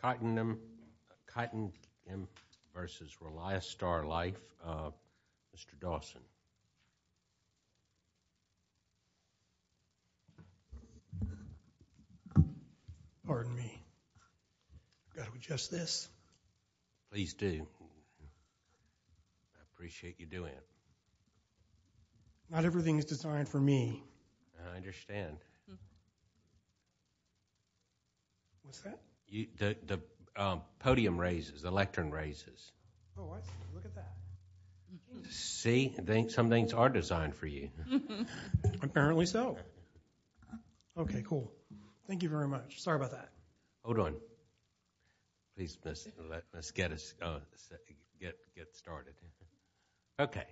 Cottingim v. Reliastar Life. Mr. Dawson. Pardon me. I've got to adjust this. Please do. I appreciate you doing it. Not everything is designed for me. I understand. What's that? The podium raises. The lectern raises. Oh, I see. Look at that. See? Some things are designed for you. Apparently so. Okay, cool. Thank you very much. Sorry about that. Hold on. Let's get started. Okay.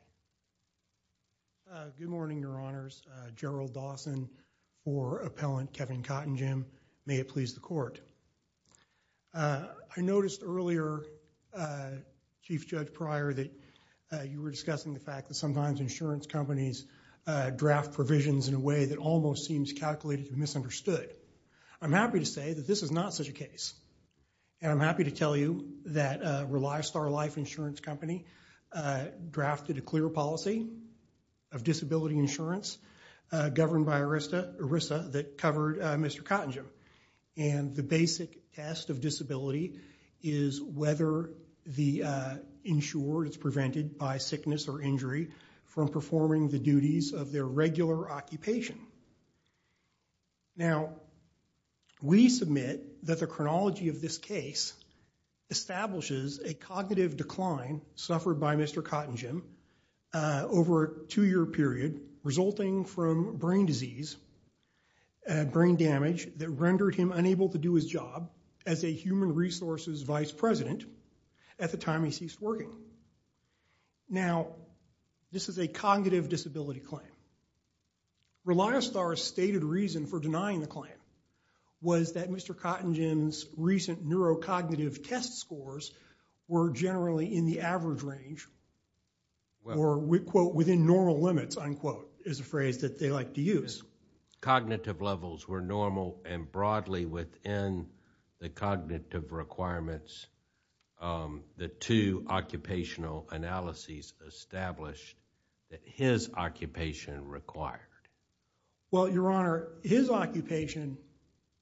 Good morning, Your Honors. Gerald Dawson for Appellant Kevin Cottingim. May it please the Court. I noticed earlier, Chief Judge Pryor, that you were discussing the fact that sometimes insurance companies draft provisions in a way that almost seems calculated and misunderstood. I'm happy to say that this is not such a case. And I'm happy to tell you that Reliastar Life Insurance Company drafted a clear policy of disability insurance governed by ERISA that covered Mr. Cottingim. And the basic test of disability is whether the insured is prevented by sickness or injury from performing the duties of their regular occupation. Now, we submit that the chronology of this case establishes a cognitive decline suffered by Mr. Cottingim over a two-year period resulting from brain disease, brain damage that rendered him unable to do his job as a human resources vice president at the time he ceased working. Now, this is a cognitive disability claim. Reliastar's stated reason for denying the claim was that Mr. Cottingim's recent neurocognitive test scores were generally in the average range or, quote, within normal limits, unquote, is a phrase that they like to use. Cognitive levels were normal and broadly within the cognitive requirements. The two occupational analyses established that his occupation required. Well, Your Honor, his occupation,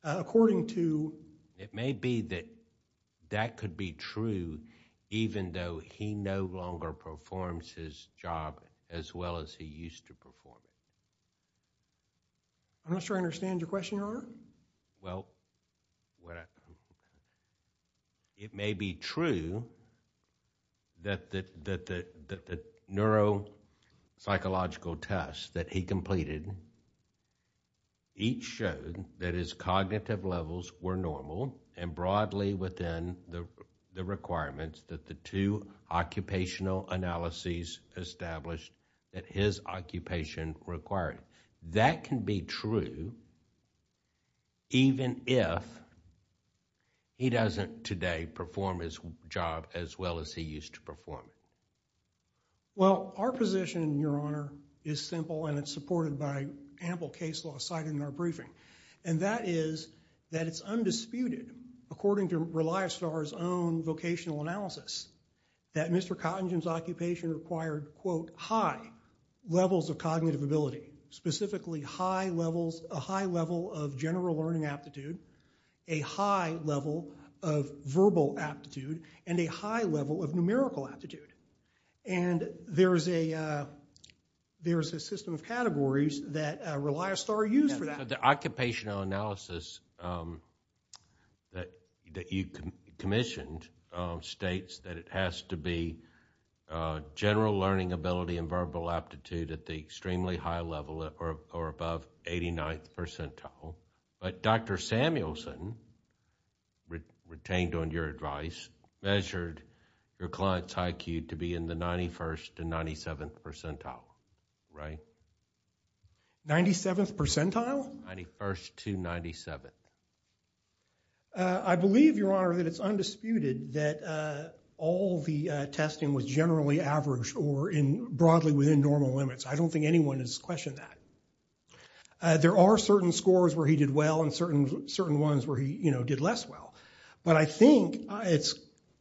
according to… It may be that that could be true even though he no longer performs his job as well as he used to perform it. I'm not sure I understand your question, Your Honor. Well, it may be true that the neuropsychological tests that he completed each showed that his cognitive levels were normal and broadly within the requirements that the two occupational analyses established that his occupation required. That can be true even if he doesn't today perform his job as well as he used to perform it. Well, our position, Your Honor, is simple and it's supported by ample case law cited in our briefing. And that is that it's undisputed, according to Reliostar's own vocational analysis, that Mr. Cottingim's occupation required, quote, high levels of cognitive ability, specifically a high level of general learning aptitude, a high level of verbal aptitude, and a high level of numerical aptitude. And there's a system of categories that Reliostar used for that. The occupational analysis that you commissioned states that it has to be general learning ability and verbal aptitude at the extremely high level or above 89th percentile. But Dr. Samuelson, retained on your advice, measured your client's IQ to be in the 91st and 97th percentile, right? 97th percentile? I believe, Your Honor, that it's undisputed that all the testing was generally average or broadly within normal limits. I don't think anyone has questioned that. There are certain scores where he did well and certain ones where he, you know, did less well. But I think it's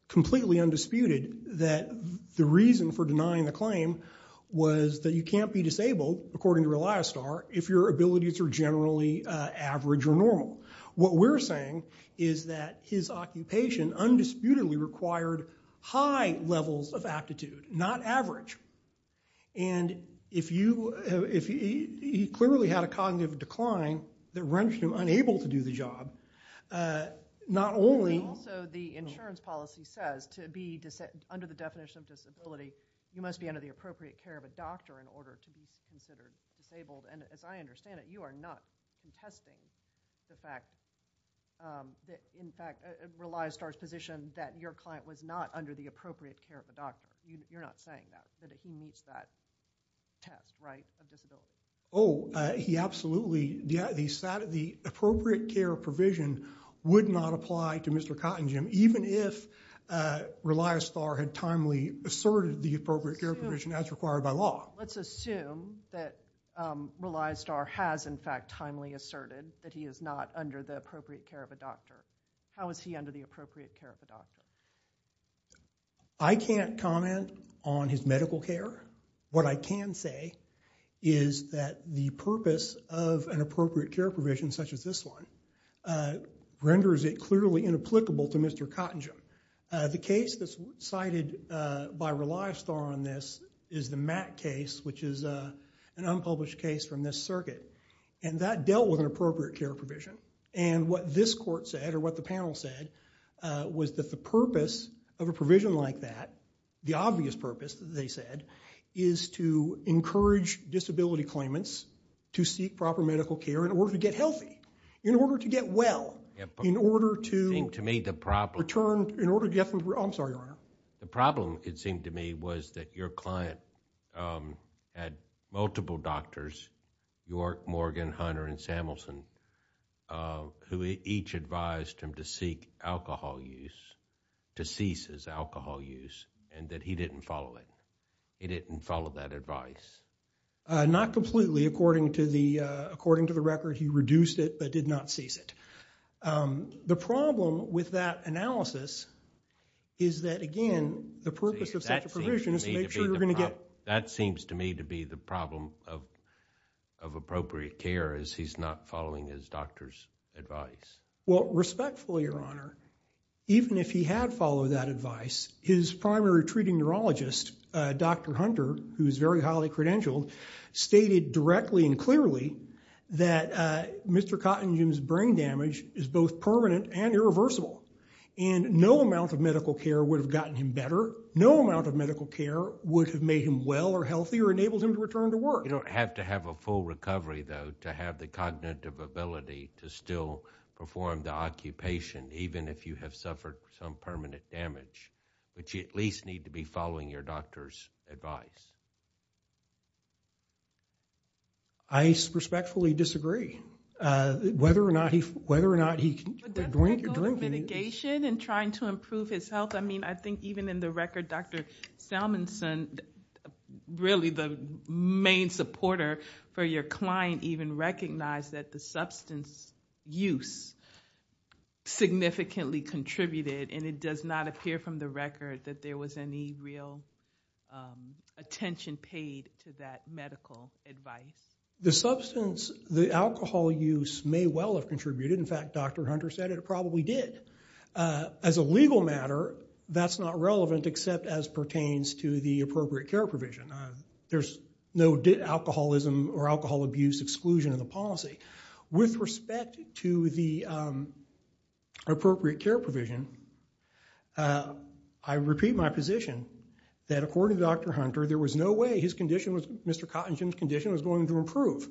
completely undisputed that the reason for denying the claim was that you can't be disabled, according to Reliostar, if your abilities are generally average or normal. What we're saying is that his occupation undisputedly required high levels of aptitude, not average. And if he clearly had a cognitive decline that rendered him unable to do the job, not only... Also, the insurance policy says to be under the definition of disability, you must be under the appropriate care of a doctor in order to be considered disabled. And as I understand it, you are not contesting the fact that, in fact, Reliostar's position that your client was not under the appropriate care of a doctor. You're not saying that, that he meets that test, right, of disability? Oh, he absolutely... The appropriate care provision would not apply to Mr. Cottingham, even if Reliostar had timely asserted the appropriate care provision as required by law. Let's assume that Reliostar has, in fact, timely asserted that he is not under the appropriate care of a doctor. How is he under the appropriate care of a doctor? I can't comment on his medical care. What I can say is that the purpose of an appropriate care provision such as this one renders it clearly inapplicable to Mr. Cottingham. The case that's cited by Reliostar on this is the Mack case, which is an unpublished case from this circuit. And that dealt with an appropriate care provision. And what this court said, or what the panel said, was that the purpose of a provision like that, the obvious purpose, they said, is to encourage disability claimants to seek proper medical care in order to get healthy. In order to get well. In order to... It seemed to me the problem... I'm sorry, Your Honor. Who each advised him to seek alcohol use, to cease his alcohol use, and that he didn't follow it. He didn't follow that advice. Not completely. According to the record, he reduced it but did not cease it. The problem with that analysis is that, again, the purpose of such a provision is to make sure you're going to get... That seems to me to be the problem of appropriate care, is he's not following his doctor's advice. Well, respectfully, Your Honor, even if he had followed that advice, his primary treating neurologist, Dr. Hunter, who is very highly credentialed, stated directly and clearly that Mr. Cottingham's brain damage is both permanent and irreversible. And no amount of medical care would have gotten him better. No amount of medical care would have made him well or healthy or enabled him to return to work. You don't have to have a full recovery, though, to have the cognitive ability to still perform the occupation, even if you have suffered some permanent damage. But you at least need to be following your doctor's advice. I respectfully disagree. Whether or not he... But that's not going to mitigation and trying to improve his health. I mean, I think even in the record, Dr. Salmonson, really the main supporter for your client, even recognized that the substance use significantly contributed. And it does not appear from the record that there was any real attention paid to that medical advice. The substance, the alcohol use, may well have contributed. In fact, Dr. Hunter said it probably did. As a legal matter, that's not relevant except as pertains to the appropriate care provision. There's no alcoholism or alcohol abuse exclusion in the policy. With respect to the appropriate care provision, I repeat my position that according to Dr. Hunter, there was no way his condition, Mr. Cottingham's condition, was going to improve.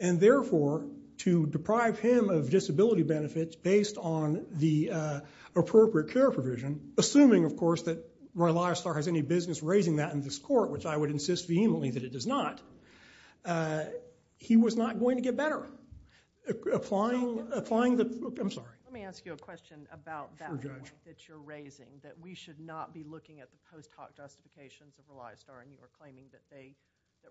And therefore, to deprive him of disability benefits based on the appropriate care provision, assuming, of course, that Roy Leisler has any business raising that in this court, which I would insist vehemently that it does not, he was not going to get better. Let me ask you a question about that point that you're raising, that we should not be looking at the post hoc justifications of Roy Leisler and you are claiming that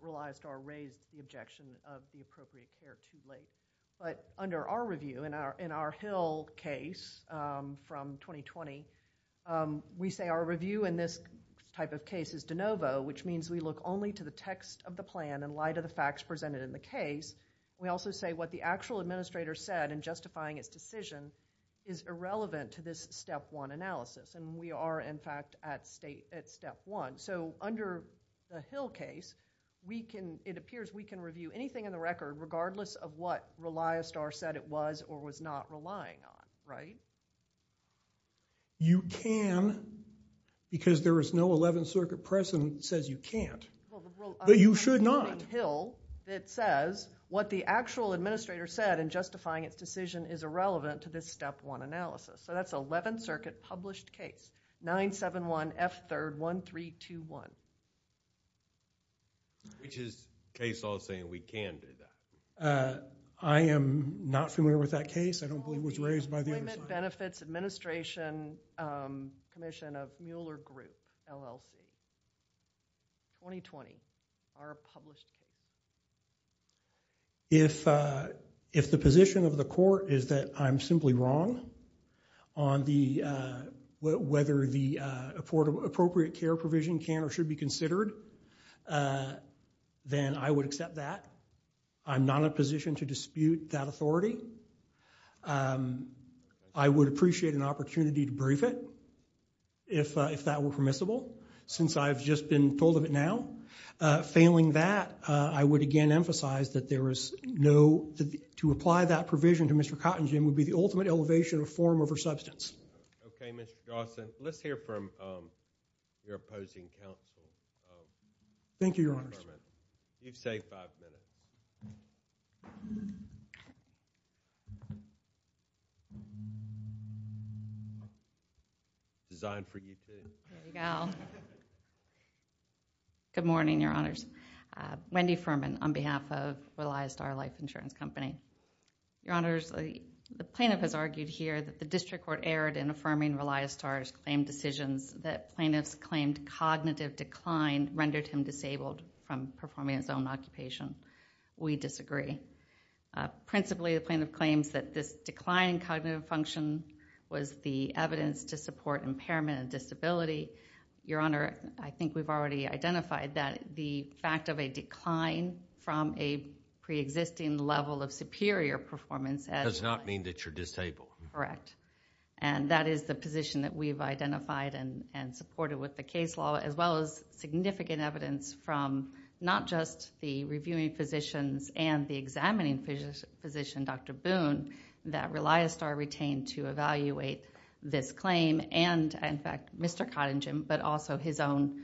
Roy Leisler raised the objection of the appropriate care too late. But under our review, in our Hill case from 2020, we say our review in this type of case is de novo, which means we look only to the text of the plan in light of the facts presented in the case. We also say what the actual administrator said in justifying his decision is irrelevant to this step one analysis. And we are, in fact, at step one. So under the Hill case, it appears we can review anything in the record regardless of what Roy Leisler said it was or was not relying on, right? You can because there is no Eleventh Circuit precedent that says you can't. But you should not. It says what the actual administrator said in justifying its decision is irrelevant to this step one analysis. So that's Eleventh Circuit published case 971F3RD1321. Which is case law saying we can do that. I am not familiar with that case. I don't believe it was raised by the other side. Benefits Administration Commission of Mueller Group, LLC. 2020. Our published case. If the position of the court is that I'm simply wrong on whether the appropriate care provision can or should be considered, then I would accept that. I'm not in a position to dispute that authority. I would appreciate an opportunity to brief it, if that were permissible, since I've just been told of it now. Failing that, I would again emphasize that there is no, to apply that provision to Mr. Cottingen would be the ultimate elevation of form over substance. Okay, Mr. Dawson. Let's hear from your opposing counsel. Thank you, Your Honors. You've saved five minutes. Designed for you, too. There you go. Good morning, Your Honors. Wendy Furman on behalf of Reliastar Life Insurance Company. Your Honors, the plaintiff has argued here that the district court erred in affirming Reliastar's claimed decisions, that plaintiffs claimed cognitive decline rendered him disabled from performing his own occupation. We disagree. Principally, the plaintiff claims that this decline in cognitive function was the evidence to support impairment and disability. Your Honor, I think we've already identified that the fact of a decline from a pre-existing level of superior performance. Does not mean that you're disabled. Correct. And that is the position that we've identified and supported with the case law, as well as significant evidence from not just the reviewing physicians and the examining physician, Dr. Boone, that Reliastar retained to evaluate this claim. And, in fact, Mr. Cottingen, but also his own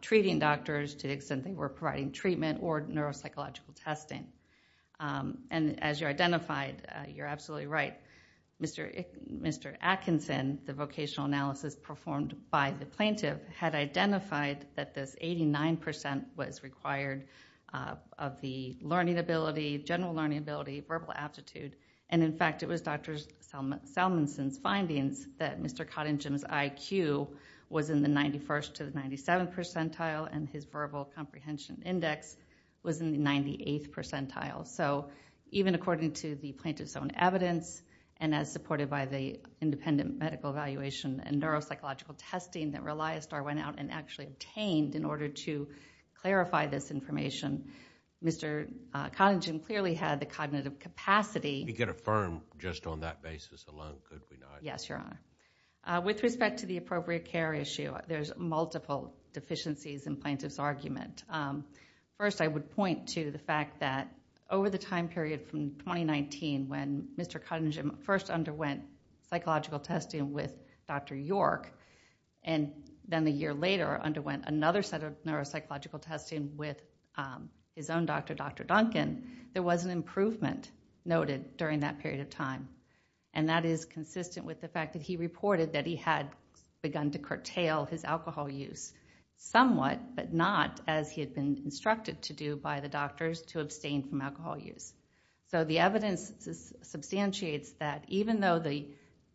treating doctors to the extent they were providing treatment or neuropsychological testing. And as you identified, you're absolutely right. Mr. Atkinson, the vocational analysis performed by the plaintiff, had identified that this 89% was required of the learning ability, general learning ability, verbal aptitude. And, in fact, it was Dr. Salmonson's findings that Mr. Cottingen's IQ was in the 91st to the 97th percentile and his verbal comprehension index was in the 98th percentile. So, even according to the plaintiff's own evidence and as supported by the independent medical evaluation and neuropsychological testing that Reliastar went out and actually obtained in order to clarify this information, Mr. Cottingen clearly had the cognitive capacity. We could affirm just on that basis alone, could we not? Yes, Your Honor. With respect to the appropriate care issue, there's multiple deficiencies in plaintiff's argument. First, I would point to the fact that over the time period from 2019 when Mr. Cottingen first underwent psychological testing with Dr. York and then a year later underwent another set of neuropsychological testing with his own doctor, Dr. Duncan, there was an improvement noted during that period of time. And that is consistent with the fact that he reported that he had begun to curtail his alcohol use somewhat, but not as he had been instructed to do by the doctors to abstain from alcohol use. So, the evidence substantiates that even though the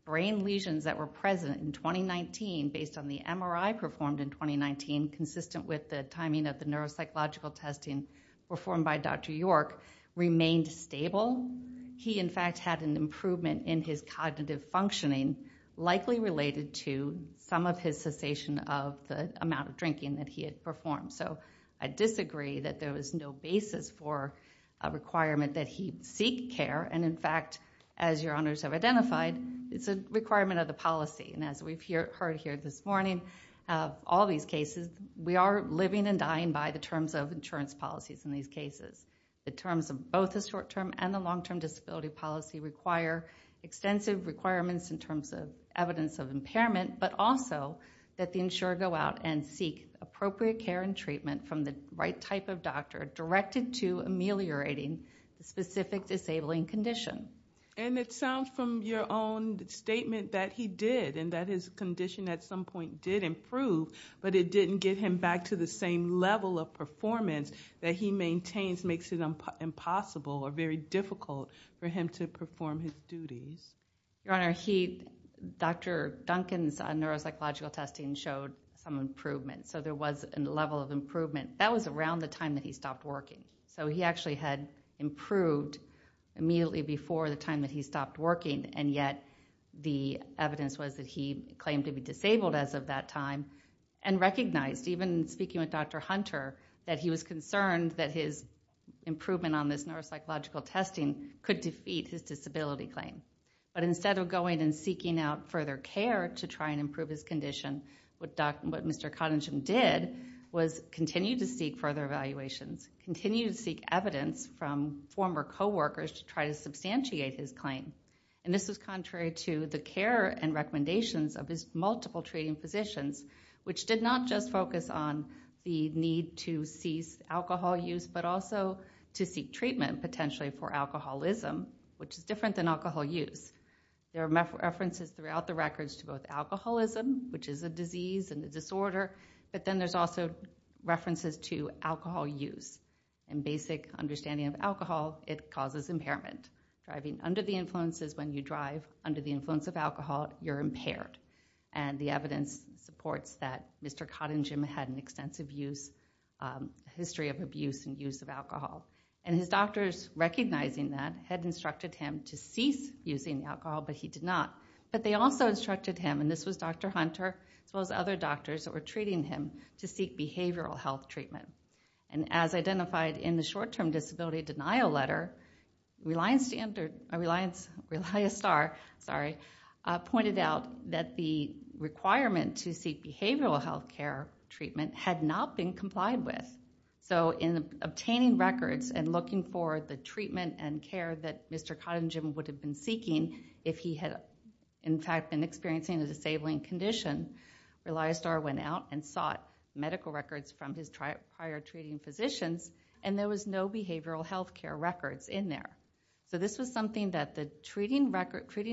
brain lesions that were present in 2019 based on the MRI performed in 2019 consistent with the timing of the neuropsychological testing performed by Dr. York remained stable. He, in fact, had an improvement in his cognitive functioning likely related to some of his cessation of the amount of drinking that he had performed. So, I disagree that there was no basis for a requirement that he seek care. And, in fact, as Your Honors have identified, it's a requirement of the policy. And as we've heard here this morning of all these cases, we are living and dying by the terms of insurance policies in these cases. The terms of both the short-term and the long-term disability policy require extensive requirements in terms of evidence of impairment. But also that the insurer go out and seek appropriate care and treatment from the right type of doctor directed to ameliorating the specific disabling condition. And it sounds from your own statement that he did and that his condition at some point did improve. But it didn't get him back to the same level of performance that he maintains makes it impossible or very difficult for him to perform his duties. Your Honor, Dr. Duncan's neuropsychological testing showed some improvement. So, there was a level of improvement. That was around the time that he stopped working. So, he actually had improved immediately before the time that he stopped working. And yet, the evidence was that he claimed to be disabled as of that time and recognized, even speaking with Dr. Hunter, that he was concerned that his improvement on this neuropsychological testing could defeat his disability claim. But instead of going and seeking out further care to try and improve his condition, what Mr. Cottingham did was continue to seek further evaluations, continue to seek evidence from former coworkers to try to substantiate his claim. And this was contrary to the care and recommendations of his multiple treating physicians, which did not just focus on the need to cease alcohol use, but also to seek treatment potentially for alcoholism, which is different than alcohol use. There are references throughout the records to both alcoholism, which is a disease and a disorder, but then there's also references to alcohol use. In basic understanding of alcohol, it causes impairment. Driving under the influence is when you drive under the influence of alcohol, you're impaired. And the evidence supports that Mr. Cottingham had an extensive history of abuse and use of alcohol. And his doctors, recognizing that, had instructed him to cease using alcohol, but he did not. But they also instructed him, and this was Dr. Hunter as well as other doctors that were treating him, to seek behavioral health treatment. And as identified in the short-term disability denial letter, Reliance Star pointed out that the requirement to seek behavioral health care treatment had not been complied with. So in obtaining records and looking for the treatment and care that Mr. Cottingham would have been seeking if he had, in fact, been experiencing a disabling condition, Reliance Star went out and sought medical records from his prior treating physicians, and there was no behavioral health care records in there. So this was something that the treating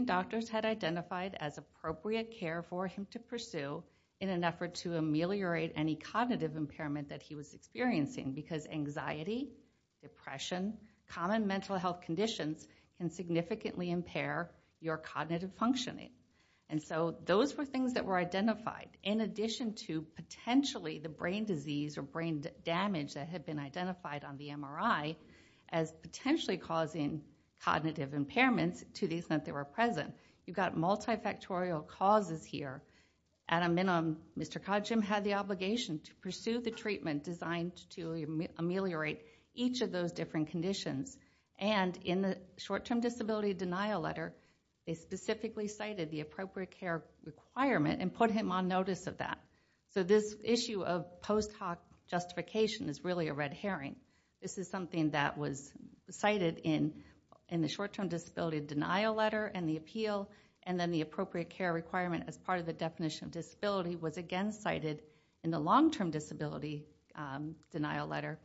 doctors had identified as appropriate care for him to pursue in an effort to ameliorate any cognitive impairment that he was experiencing. Because anxiety, depression, common mental health conditions can significantly impair your cognitive functioning. And so those were things that were identified in addition to potentially the brain disease or brain damage that had been identified on the MRI as potentially causing cognitive impairments to the extent they were present. You've got multifactorial causes here. At a minimum, Mr. Cottingham had the obligation to pursue the treatment designed to ameliorate each of those different conditions. And in the short-term disability denial letter, they specifically cited the appropriate care requirement and put him on notice of that. So this issue of post hoc justification is really a red herring. This is something that was cited in the short-term disability denial letter and the appeal, and then the appropriate care requirement as part of the definition of disability was again cited in the long-term disability denial letter.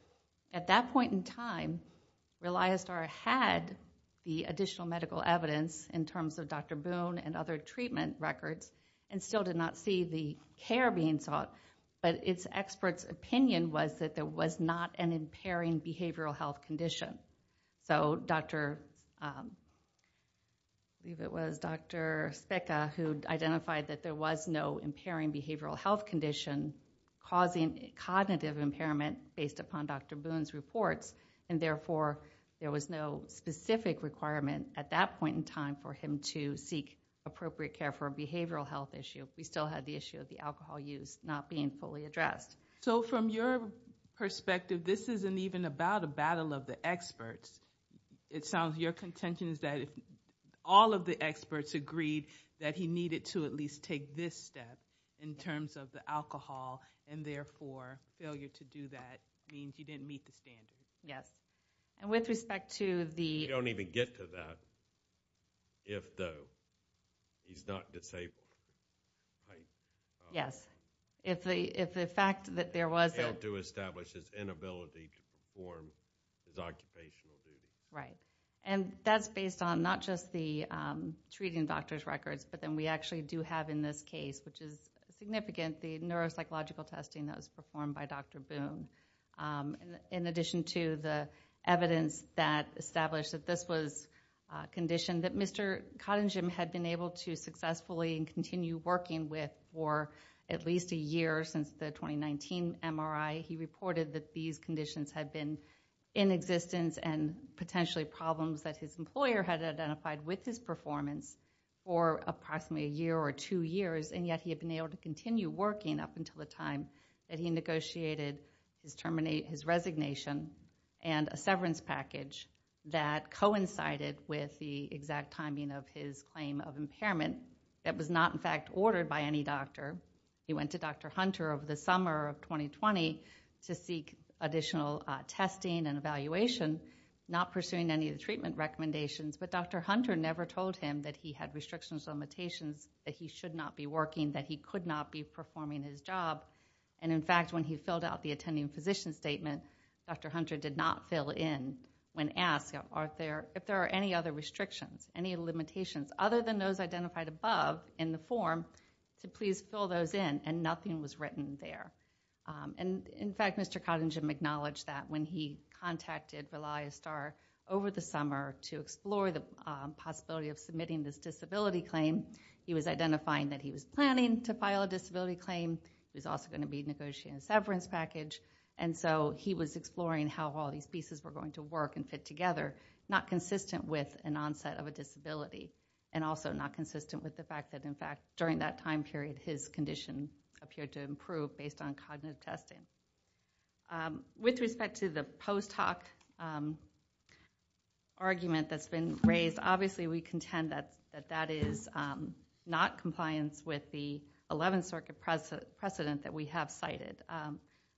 At that point in time, Reliance Star had the additional medical evidence in terms of Dr. Boone and other treatment records and still did not see the care being sought. But its expert's opinion was that there was not an impairing behavioral health condition. So Dr. Speka, who identified that there was no impairing behavioral health condition causing cognitive impairment based upon Dr. Boone's reports, and therefore there was no specific requirement at that point in time for him to seek appropriate care for a behavioral health issue. We still had the issue of the alcohol use not being fully addressed. So from your perspective, this isn't even about a battle of the experts. It sounds your contention is that if all of the experts agreed that he needed to at least take this step in terms of the alcohol and therefore failure to do that means he didn't meet the standards. Yes. And with respect to the... If, though, he's not disabled. Yes. If the fact that there was a... Failed to establish his inability to perform his occupational duty. Right. And that's based on not just the treating doctor's records, but then we actually do have in this case, which is significant, the neuropsychological testing that was performed by Dr. Boone. In addition to the evidence that established that this was a condition that Mr. Cottingham had been able to successfully continue working with for at least a year since the 2019 MRI, he reported that these conditions had been in existence and potentially problems that his employer had identified with his performance for approximately a year or two years, and yet he had been able to continue working up until the time that he negotiated his resignation and a severance package that coincided with the exact timing of his claim of impairment that was not in fact ordered by any doctor. He went to Dr. Hunter over the summer of 2020 to seek additional testing and evaluation, not pursuing any of the treatment recommendations, but Dr. Hunter never told him that he had restrictions or limitations, that he should not be working, that he could not be performing his job, and in fact when he filled out the attending physician statement, Dr. Hunter did not fill in when asked if there are any other restrictions, any limitations, other than those identified above in the form, to please fill those in, and nothing was written there. In fact, Mr. Cottingham acknowledged that when he contacted ReliaSTAR over the summer to explore the possibility of submitting this disability claim, he was identifying that he was planning to file a disability claim, he was also going to be negotiating a severance package, and so he was exploring how all these pieces were going to work and fit together, not consistent with an onset of a disability, and also not consistent with the fact that in fact during that time period his condition appeared to improve based on cognitive testing. With respect to the post hoc argument that's been raised, obviously we contend that that is not compliance with the Eleventh Circuit precedent that we have cited.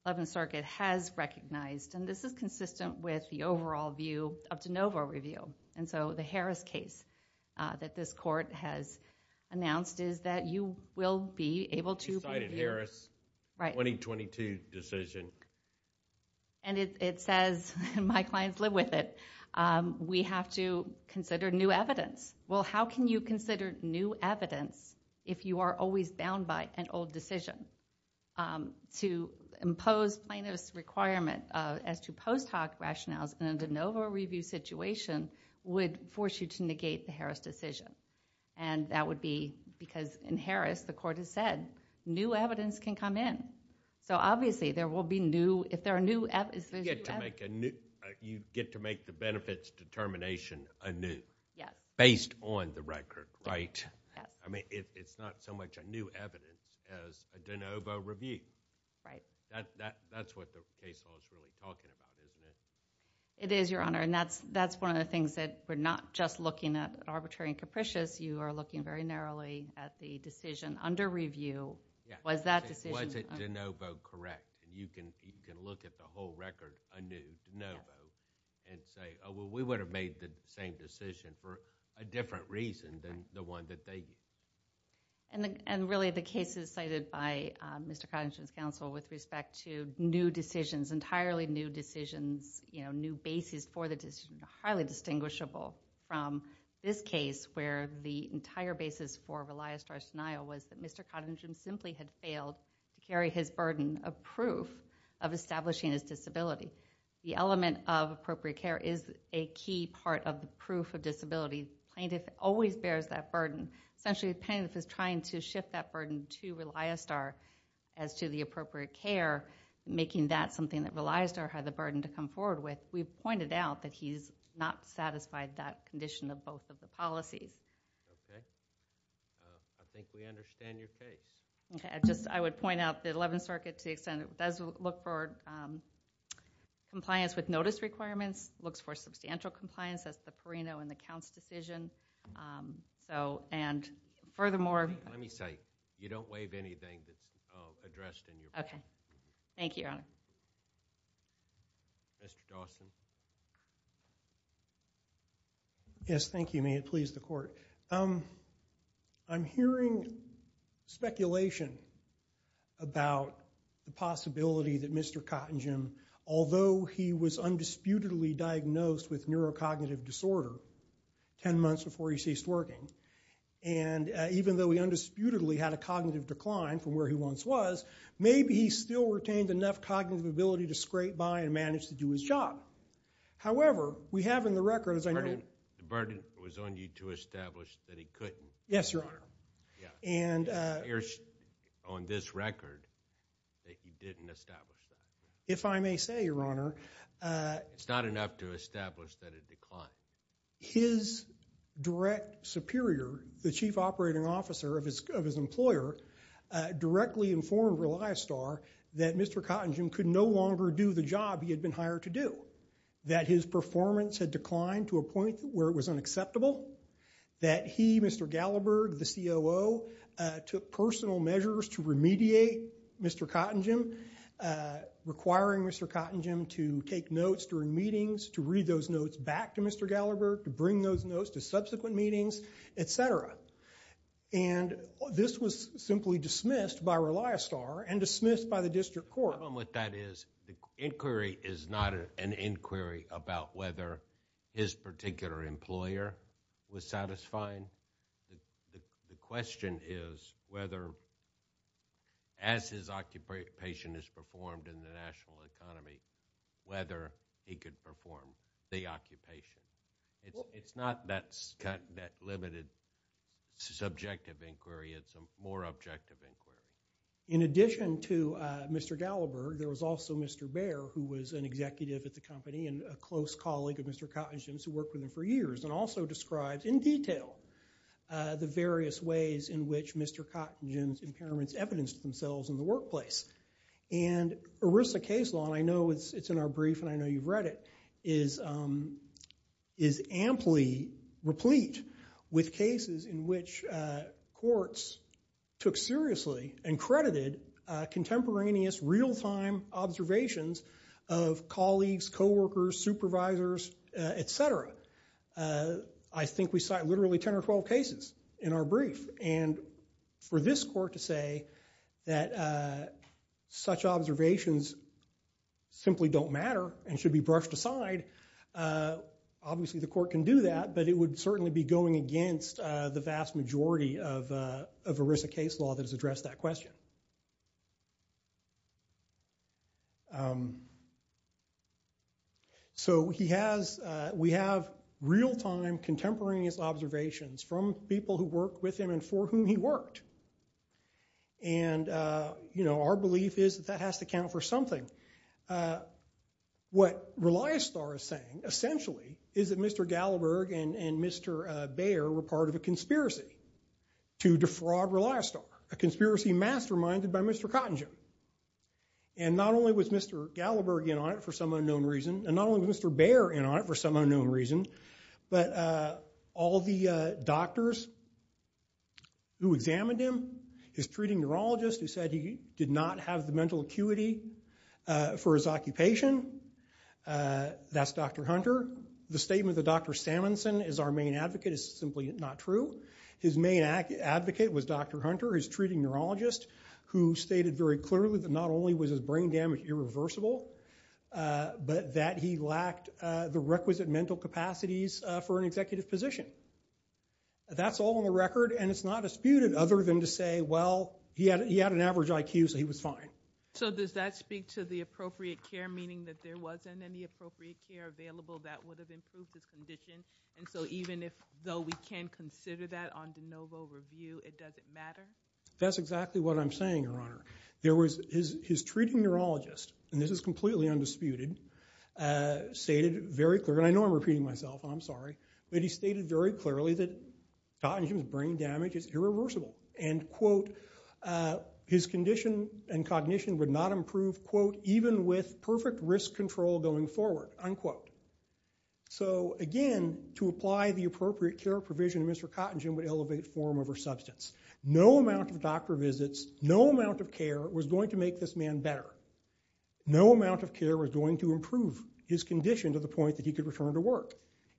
Eleventh Circuit has recognized, and this is consistent with the overall view of de novo review, and so the Harris case that this court has announced is that you will be able to be reviewed. She cited Harris, 2022 decision. And it says, and my clients live with it, we have to consider new evidence. Well, how can you consider new evidence if you are always bound by an old decision? To impose plaintiff's requirement as to post hoc rationales in a de novo review situation would force you to negate the Harris decision. And that would be because in Harris the court has said new evidence can come in. So obviously there will be new, if there are new evidence... You get to make the benefits determination anew. Based on the record, right? I mean, it's not so much a new evidence as a de novo review. That's what the case law is really talking about, isn't it? It is, Your Honor, and that's one of the things that we're not just looking at arbitrary and capricious. You are looking very narrowly at the decision under review. Was that decision... Was it de novo correct? You can look at the whole record anew, de novo, and say, oh, well, we would have made the same decision for a different reason than the one that they... And really, the cases cited by Mr. Cottingham's counsel with respect to new decisions, entirely new decisions, you know, new basis for the decision, are highly distinguishable from this case where the entire basis for Relia star's denial was that Mr. Cottingham simply had failed to carry his burden of proof of establishing his disability. The element of appropriate care is a key part of the proof of disability. Plaintiff always bears that burden. Essentially, the plaintiff is trying to shift that burden to Relia star as to the appropriate care, making that something that Relia star had the burden to come forward with. We've pointed out that he's not satisfied that condition of both of the policies. Okay. I think we understand your case. Okay, I just... I would point out that 11th Circuit does look for compliance with notice requirements, looks for substantial compliance. That's the Perino and the Counts decision. So, and furthermore... Let me say, you don't waive anything that's addressed in your... Okay. Thank you, Your Honor. Mr. Dawson. Yes, thank you. May it please the Court. I'm hearing speculation about the possibility that Mr. Cottingham, although he was undisputedly diagnosed with neurocognitive disorder 10 months before he ceased working, and even though he undisputedly had a cognitive decline from where he once was, maybe he still retained enough cognitive ability to scrape by and manage to do his job. However, we have in the record, as I know... The burden was on you to establish that he couldn't. Yes, Your Honor. And it appears on this record that you didn't establish that. If I may say, Your Honor... It's not enough to establish that it declined. His direct superior, the chief operating officer of his employer, directly informed Reliastar that Mr. Cottingham could no longer do the job he had been hired to do, that his performance had declined to a point where it was unacceptable, that he, Mr. Gallaberg, the COO, took personal measures to remediate Mr. Cottingham, requiring Mr. Cottingham to take notes during meetings, to read those notes back to Mr. Gallaberg, to bring those notes to subsequent meetings, etc. And this was simply dismissed by Reliastar and dismissed by the district court. The problem with that is the inquiry is not an inquiry about whether his particular employer was satisfying. The question is whether, as his occupation is performed in the national economy, whether he could perform the occupation. It's not that limited subjective inquiry. It's a more objective inquiry. In addition to Mr. Gallaberg, there was also Mr. Baer, who was an executive at the company and a close colleague of Mr. Cottingham's who worked with him for years, and also described in detail the various ways in which Mr. Cottingham's impairments evidenced themselves in the workplace. And ERISA case law, and I know it's in our brief and I know you've read it, is amply replete with cases in which courts took seriously and credited contemporaneous real-time observations of colleagues, coworkers, supervisors, etc. I think we cite literally 10 or 12 cases in our brief. And for this court to say that such observations simply don't matter and should be brushed aside, obviously the court can do that, but it would certainly be going against the vast majority of ERISA case law that has addressed that question. So we have real-time contemporaneous observations from people who worked with him and for whom he worked. And our belief is that that has to count for something. What Reliostar is saying, essentially, is that Mr. Gallaberg and Mr. Baer were part of a conspiracy to defraud Reliostar, a conspiracy masterminded by Mr. Cottingham. And not only was Mr. Gallaberg in on it for some unknown reason, and not only was Mr. Baer in on it for some unknown reason, but all the doctors who examined him, his treating neurologist who said he did not have the mental acuity for his occupation, that's Dr. Hunter. The statement that Dr. Samuelson is our main advocate is simply not true. His main advocate was Dr. Hunter, his treating neurologist, who stated very clearly that not only was his brain damage irreversible, but that he lacked the requisite mental capacities for an executive position. That's all on the record, and it's not disputed other than to say, well, he had an average IQ, so he was fine. So does that speak to the appropriate care, meaning that there wasn't any appropriate care available that would have improved his condition? And so even though we can consider that on de novo review, it doesn't matter? That's exactly what I'm saying, Your Honor. His treating neurologist, and this is completely undisputed, stated very clearly, and I know I'm repeating myself, I'm sorry, but he stated very clearly that Cottingham's brain damage is irreversible. And, quote, his condition and cognition would not improve, quote, even with perfect risk control going forward, unquote. So again, to apply the appropriate care provision to Mr. Cottingham would elevate form over substance. No amount of doctor visits, no amount of care was going to make this man better. No amount of care was going to improve his condition to the point that he could return to work.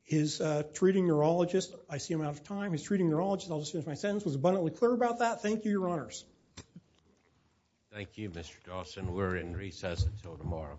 His treating neurologist, I see him out of time, his treating neurologist, I'll just finish my sentence, was abundantly clear about that. Thank you, Your Honors. Thank you, Mr. Dawson. We're in recess until tomorrow.